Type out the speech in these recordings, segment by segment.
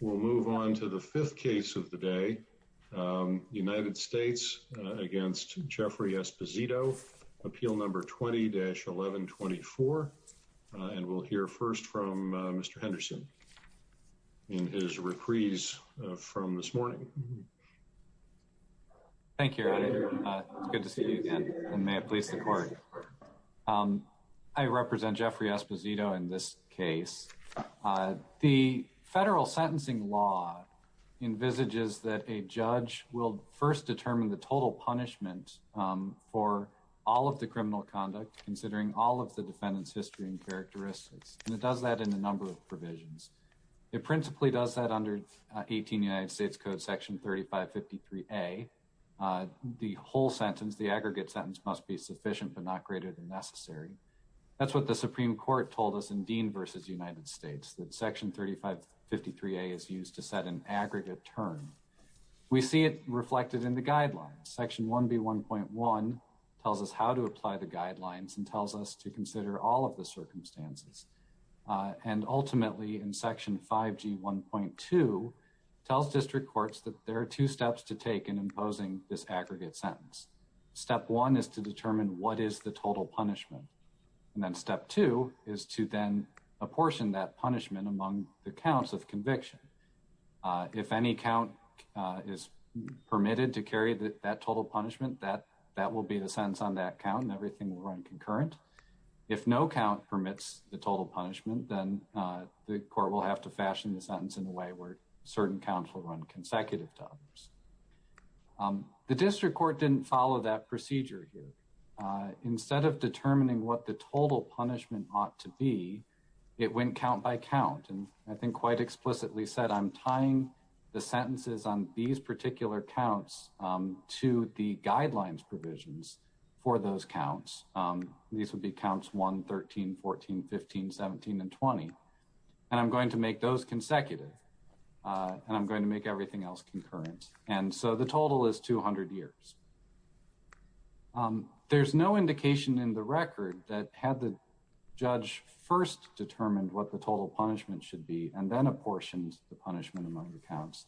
We'll move on to the fifth case of the day, United States against Jeffrey Esposito, appeal number 20-1124, and we'll hear first from Mr. Henderson in his reprise from this morning. Thank you, it's good to see you again, and may I please the court. I represent Jeffrey Esposito in this case. The federal sentencing law envisages that a judge will first determine the total punishment for all of the criminal conduct, considering all of the defendant's history and characteristics, and it does that in a number of provisions. It principally does that under 18 United States Code section 3553A. The whole sentence, the not greater than necessary. That's what the Supreme Court told us in Dean versus United States, that section 3553A is used to set an aggregate term. We see it reflected in the guidelines. Section 1B1.1 tells us how to apply the guidelines and tells us to consider all of the circumstances, and ultimately in section 5G1.2 tells district courts that there are two steps to take in imposing this aggregate sentence. Step one is to determine what is the total punishment, and then step two is to then apportion that punishment among the counts of conviction. If any count is permitted to carry that total punishment, that will be the sentence on that count, and everything will run concurrent. If no count permits the total punishment, then the court will have to fashion the sentence to be consecutive to others. The district court didn't follow that procedure here. Instead of determining what the total punishment ought to be, it went count by count, and I think quite explicitly said, I'm tying the sentences on these particular counts to the guidelines provisions for those counts. These would be counts 1, 13, 14, 15, 17, and 20, and I'm going to make those consecutive, and I'm going to make everything else concurrent, and so the total is 200 years. There's no indication in the record that had the judge first determined what the total punishment should be, and then apportioned the punishment among the counts,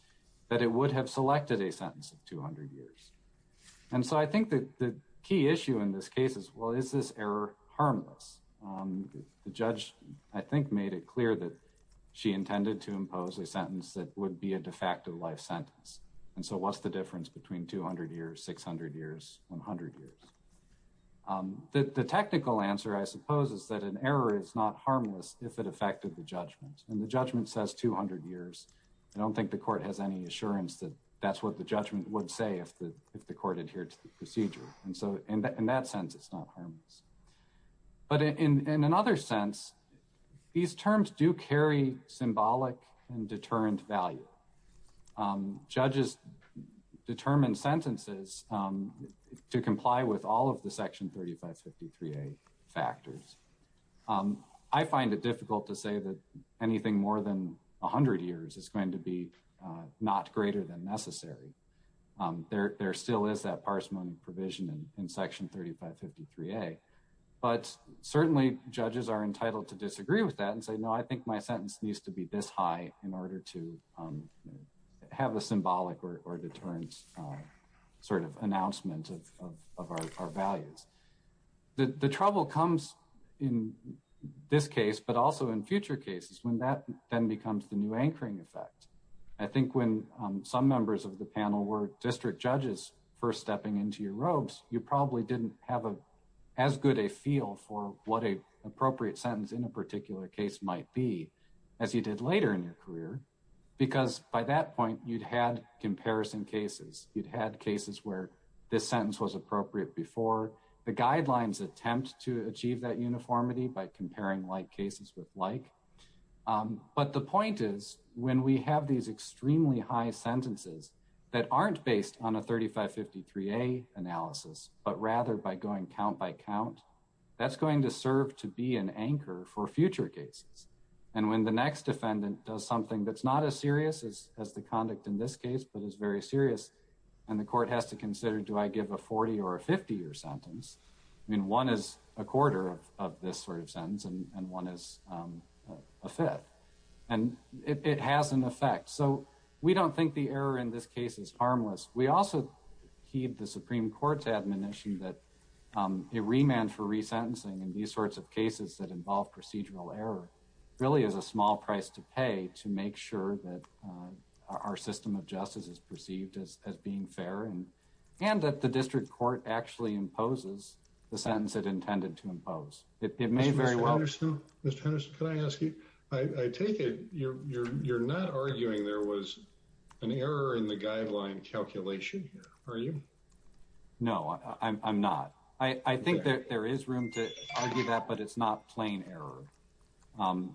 that it would have selected a sentence of 200 years, and so I think that the key issue in this case is, well, is this error intended to impose a sentence that would be a de facto life sentence, and so what's the difference between 200 years, 600 years, 100 years? The technical answer, I suppose, is that an error is not harmless if it affected the judgment, and the judgment says 200 years. I don't think the court has any assurance that that's what the judgment would say if the court adhered to the procedure, and so in that sense, it's not harmless, but in another sense, these are symbolic and deterrent value. Judges determine sentences to comply with all of the Section 3553A factors. I find it difficult to say that anything more than 100 years is going to be not greater than necessary. There still is that parsimony provision in Section 3553A, but certainly judges are entitled to a sentence that's high in order to have a symbolic or deterrent sort of announcement of our values. The trouble comes in this case, but also in future cases, when that then becomes the new anchoring effect. I think when some members of the panel were district judges first stepping into your robes, you probably didn't have as good a feel for what a appropriate sentence in a case was going to be. You probably didn't have as good of a feel for what you're going to hear in your career, because by that point, you'd had comparison cases. You'd had cases where this sentence was appropriate before. The guidelines attempt to achieve that uniformity by comparing like cases with like, but the point is, when we have these extremely high sentences that aren't based on a 3553A analysis, but rather by going count by count, that's going to serve to be an anchor for future cases. And when the next defendant does something that's not as serious as the conduct in this case, but is very serious, and the court has to consider, do I give a 40 or a 50 year sentence? I mean, one is a quarter of this sort of sentence, and one is a fifth, and it has an effect. So we don't think the error in this case is harmless. We also heed the Supreme Court's admonition that a remand for procedural error really is a small price to pay to make sure that our system of justice is perceived as being fair, and that the district court actually imposes the sentence it intended to impose. It may very well... Mr. Henderson, can I ask you? I take it you're not arguing there was an error in the guideline calculation here, are you? No, I'm not. I think that there is room to argue that, but it's not plain error.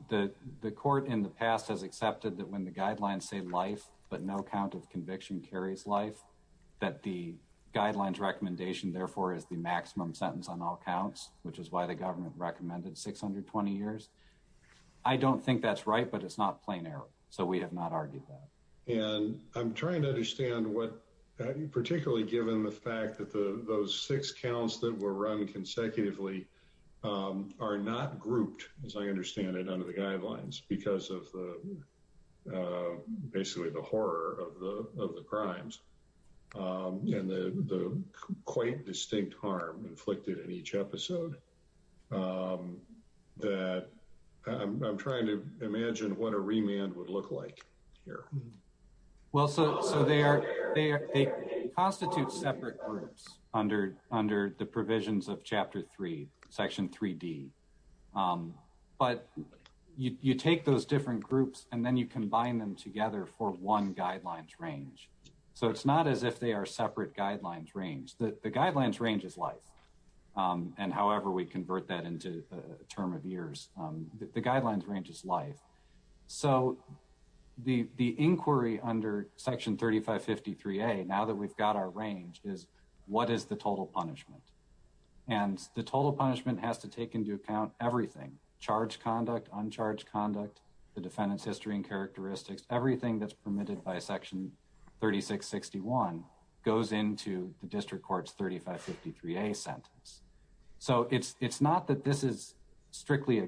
The court in the past has accepted that when the guidelines say life, but no count of conviction carries life, that the guidelines recommendation therefore is the maximum sentence on all counts, which is why the government recommended 620 years. I don't think that's right, but it's not plain error. So we have not argued that. And I'm trying to understand what, particularly given the fact that those six counts that were run consecutively are not grouped, as I understand it, under the guidelines because of basically the horror of the crimes, and the quite distinct harm inflicted in each episode, that I'm hearing. Well, so they constitute separate groups under the provisions of Chapter 3, Section 3D, but you take those different groups and then you combine them together for one guidelines range. So it's not as if they are separate guidelines range. The guidelines range is life, and however we The inquiry under Section 3553A, now that we've got our range, is what is the total punishment? And the total punishment has to take into account everything. Charged conduct, uncharged conduct, the defendant's history and characteristics, everything that's permitted by Section 3661 goes into the District Court's 3553A sentence. So it's not that this is strictly a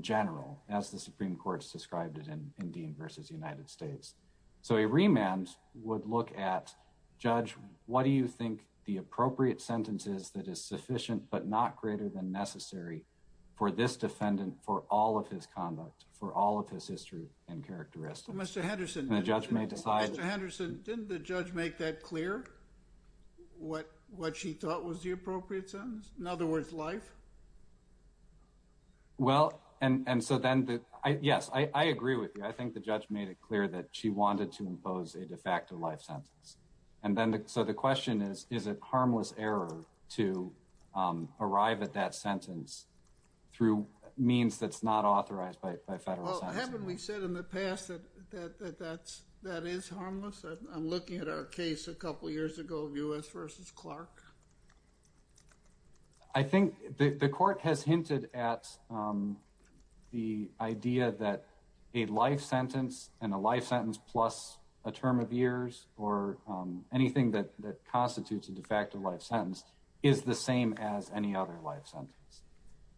general, as the Supreme Court's described it in Dean v. United States. So a remand would look at, Judge, what do you think the appropriate sentence is that is sufficient but not greater than necessary for this defendant for all of his conduct, for all of his history and characteristics? Mr. Henderson, didn't the judge make that clear? What she thought was the appropriate sentence? In other words, yes, I agree with you. I think the judge made it clear that she wanted to impose a de facto life sentence. So the question is, is it harmless error to arrive at that sentence through means that's not authorized by federal sentencing? Well, haven't we said in the past that that is harmless? I'm looking at our case a couple years ago, U.S. v. Clark. I think the court has hinted at the idea that a life sentence and a life sentence plus a term of years or anything that constitutes a de facto life sentence is the same as any other life sentence.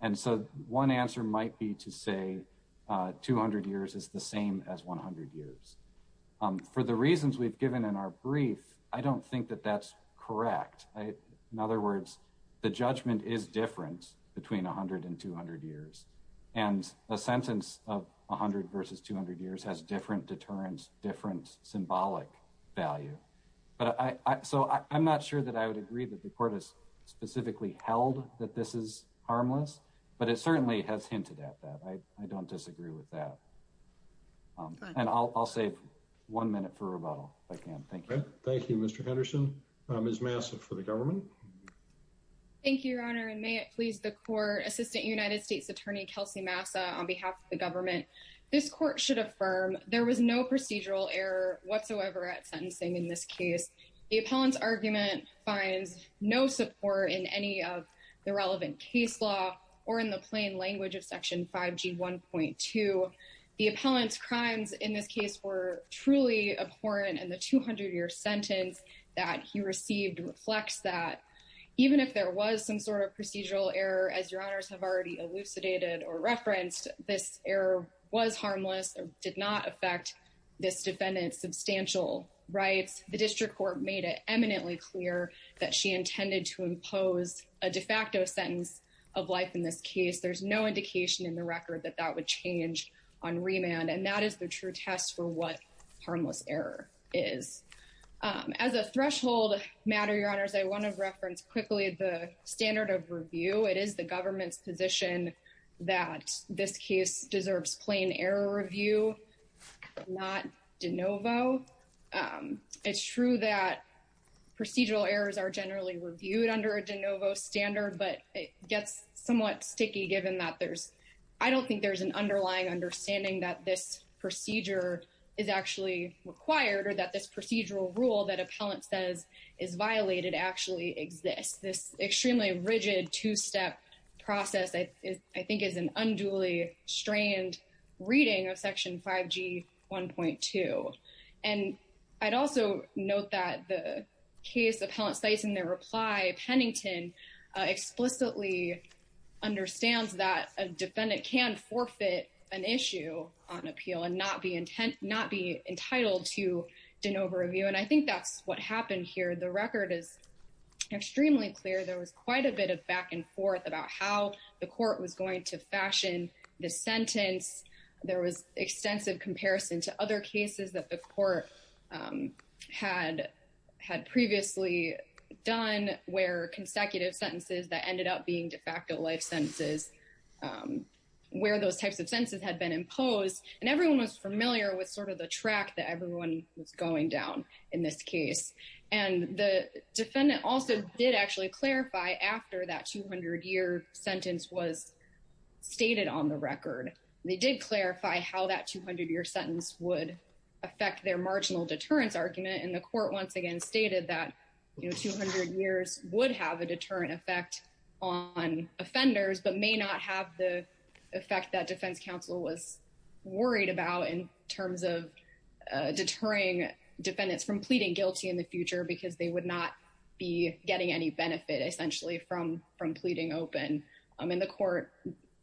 And so one answer might be to say 200 years is the same as 100 years. For the reasons we've given in our case today, in other words, the judgment is different between 100 and 200 years. And a sentence of 100 versus 200 years has different deterrence, different symbolic value. So I'm not sure that I would agree that the court has specifically held that this is harmless, but it certainly has hinted at that. I don't disagree with that. And I'll save one minute for rebuttal if I can. Thank you. Thank you, Mr. Henderson. Ms. Massa for the government. Thank you, Your Honor, and may it please the Court. Assistant United States Attorney Kelsey Massa on behalf of the government. This court should affirm there was no procedural error whatsoever at sentencing in this case. The appellant's argument finds no support in any of the relevant case law or in the plain language of Section 5g 1.2. The appellant's crimes in this case were truly abhorrent in the 200-year sentence that he received reflects that. Even if there was some sort of procedural error, as Your Honors have already elucidated or referenced, this error was harmless or did not affect this defendant's substantial rights. The district court made it eminently clear that she intended to impose a de facto sentence of life in this case. There's no indication in the record that that would change on remand, and that is the true test for what harmless error is. As a threshold matter, Your Honors, I want to reference quickly the standard of review. It is the government's position that this case deserves plain error review, not de novo. It's true that procedural errors are generally reviewed under a de novo standard, but it gets somewhat sticky given that there's, I don't think there's an underlying understanding that this procedure is actually required or that this procedural rule that appellant says is violated actually exists. This extremely rigid two-step process, I think, is an unduly strained reading of Section 5g 1.2. And I'd also note that the case appellant states in their reply, Pennington explicitly understands that a defendant can forfeit an issue on appeal and not be entitled to de novo review, and I think that's what happened here. The record is extremely clear. There was quite a bit of back-and-forth about how the court was going to fashion the sentence. There was extensive comparison to other cases that the court had previously done where consecutive sentences that ended up being de facto life sentences, where those types of sentences had been imposed, and everyone was familiar with sort of the track that everyone was going down in this case. And the defendant also did actually clarify after that 200-year sentence was stated on the record. They did clarify how that 200-year sentence would affect their marginal deterrence argument, and the court once again stated that, you know, but may not have the effect that defense counsel was worried about in terms of deterring defendants from pleading guilty in the future because they would not be getting any benefit, essentially, from pleading open. I mean, the court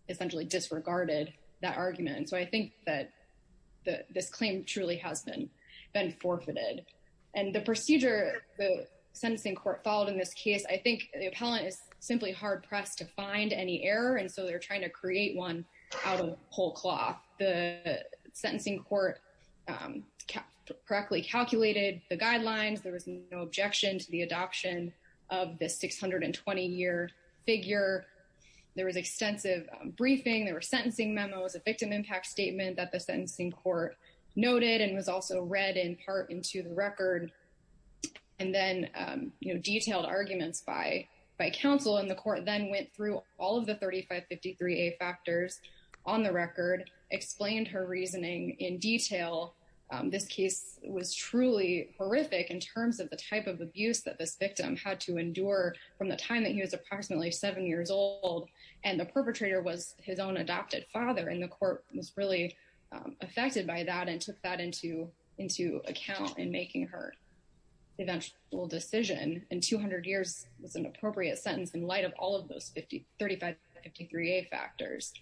essentially disregarded that argument, so I think that this claim truly has been forfeited. And the procedure the sentencing court followed in this case, I think the appellant is simply hard-pressed to find any error, and so they're trying to create one out of whole cloth. The sentencing court correctly calculated the guidelines. There was no objection to the adoption of the 620-year figure. There was extensive briefing. There were sentencing memos, a victim impact statement that the sentencing court noted and was also read in part into the record, and then, you know, detailed arguments by counsel, and the court then went through all of the 3553A factors on the record, explained her reasoning in detail. This case was truly horrific in terms of the type of abuse that this victim had to endure from the time that he was approximately seven years old, and the perpetrator was his own adopted father, and the court was really affected by that and took that into account in making her eventual decision, and 200 years was an appropriate sentence in light of all of those 3553A factors,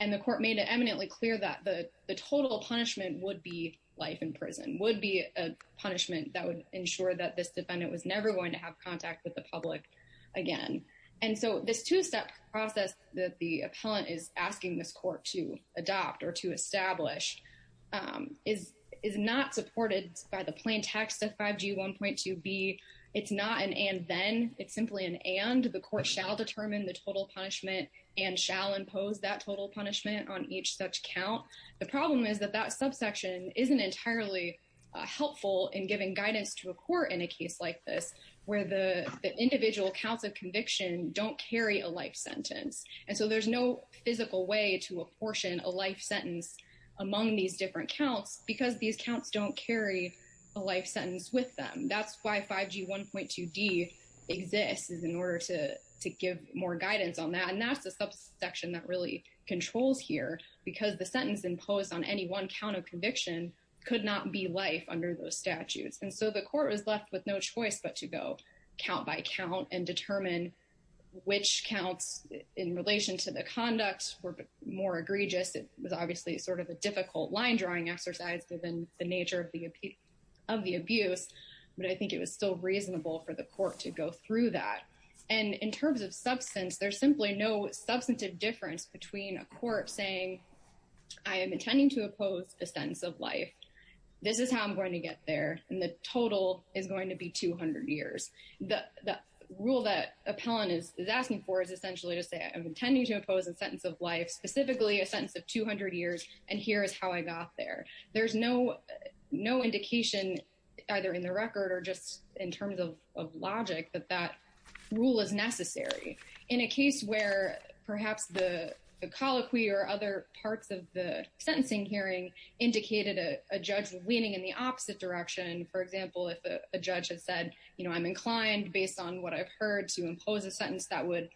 and the court made it eminently clear that the total punishment would be life in prison, would be a punishment that would ensure that this defendant was never going to have contact with the public again, and so this two-step process that the appellant is asking this court to adopt or to establish is not supported by the plain text of 5G 1.2b. It's not an and-then. It's simply an and. The court shall determine the total punishment and shall impose that total punishment on each such count. The problem is that that subsection isn't entirely helpful in giving guidance to a court in a case like this, where the individual counts of conviction don't carry a life sentence, and so there's no physical way to apportion a life sentence among these different counts because these counts don't carry a life sentence with them. That's why 5G 1.2d exists, is in order to give more guidance on that, and that's the subsection that really controls here because the sentence imposed on any one count of conviction could not be life under those statutes, and so the court was in relation to the conducts were more egregious. It was obviously sort of a difficult line-drawing exercise within the nature of the abuse, but I think it was still reasonable for the court to go through that, and in terms of substance, there's simply no substantive difference between a court saying, I am intending to oppose a sentence of life. This is how I'm going to get there, and the total is going to be 200 years. The rule that appellant is asking for is essentially to say, I'm intending to oppose a sentence of life, specifically a sentence of 200 years, and here is how I got there. There's no indication, either in the record or just in terms of logic, that that rule is necessary. In a case where perhaps the colloquy or other parts of the sentencing hearing indicated a judge leaning in the opposite direction, for example, if a judge had said, you know, I'm inclined based on what I've heard to impose a sentence that would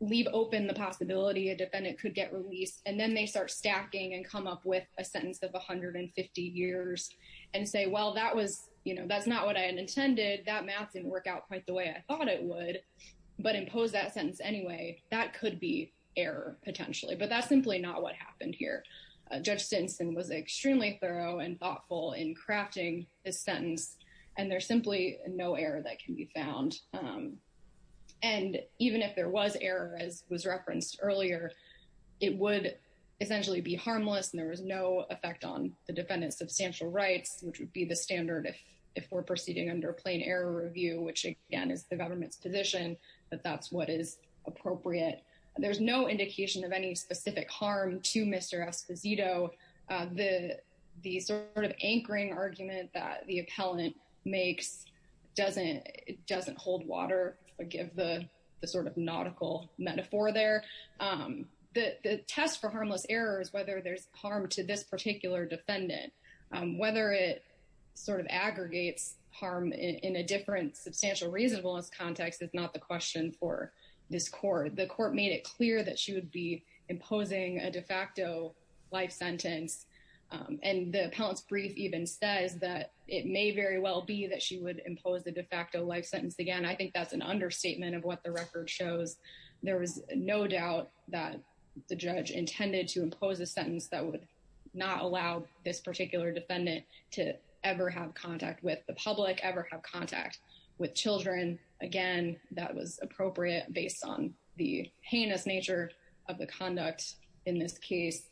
leave open the possibility a defendant could get released, and then they start stacking and come up with a sentence of 150 years and say, well, that was, you know, that's not what I had intended. That math didn't work out quite the way I thought it would, but impose that sentence anyway, that could be error potentially, but that's simply not what happened here. Judge Stinson was extremely thorough and thoughtful in crafting this sentence, and there's if there was error, as was referenced earlier, it would essentially be harmless, and there was no effect on the defendant's substantial rights, which would be the standard if we're proceeding under a plain error review, which, again, is the government's position that that's what is appropriate. There's no indication of any specific harm to Mr. Esposito. The sort of anchoring argument that the appellant makes doesn't hold water, forgive the sort of nautical metaphor there. The test for harmless error is whether there's harm to this particular defendant. Whether it sort of aggregates harm in a different substantial reasonableness context is not the question for this court. The court made it clear that she would be imposing a de facto life sentence, and the appellant's brief even says that it may very well be that she would impose a de facto life sentence again. I think that's an understatement of what the record shows. There was no doubt that the judge intended to impose a sentence that would not allow this particular defendant to ever have contact with the public, ever have contact with children. Again, that was appropriate based on the heinous nature of the conduct in this case.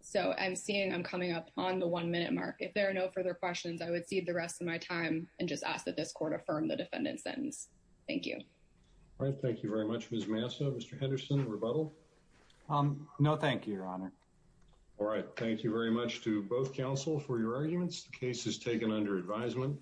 So I'm seeing I'm coming up on the one minute mark. If there are no further questions, I would cede the rest of my time and just ask that this court affirm the defendant's sentence. Thank you. All right. Thank you very much, Ms. Massa. Mr. Henderson, rebuttal? No, thank you, Your Honor. All right. Thank you very much to both counsel for your arguments. The case is taken under advisement.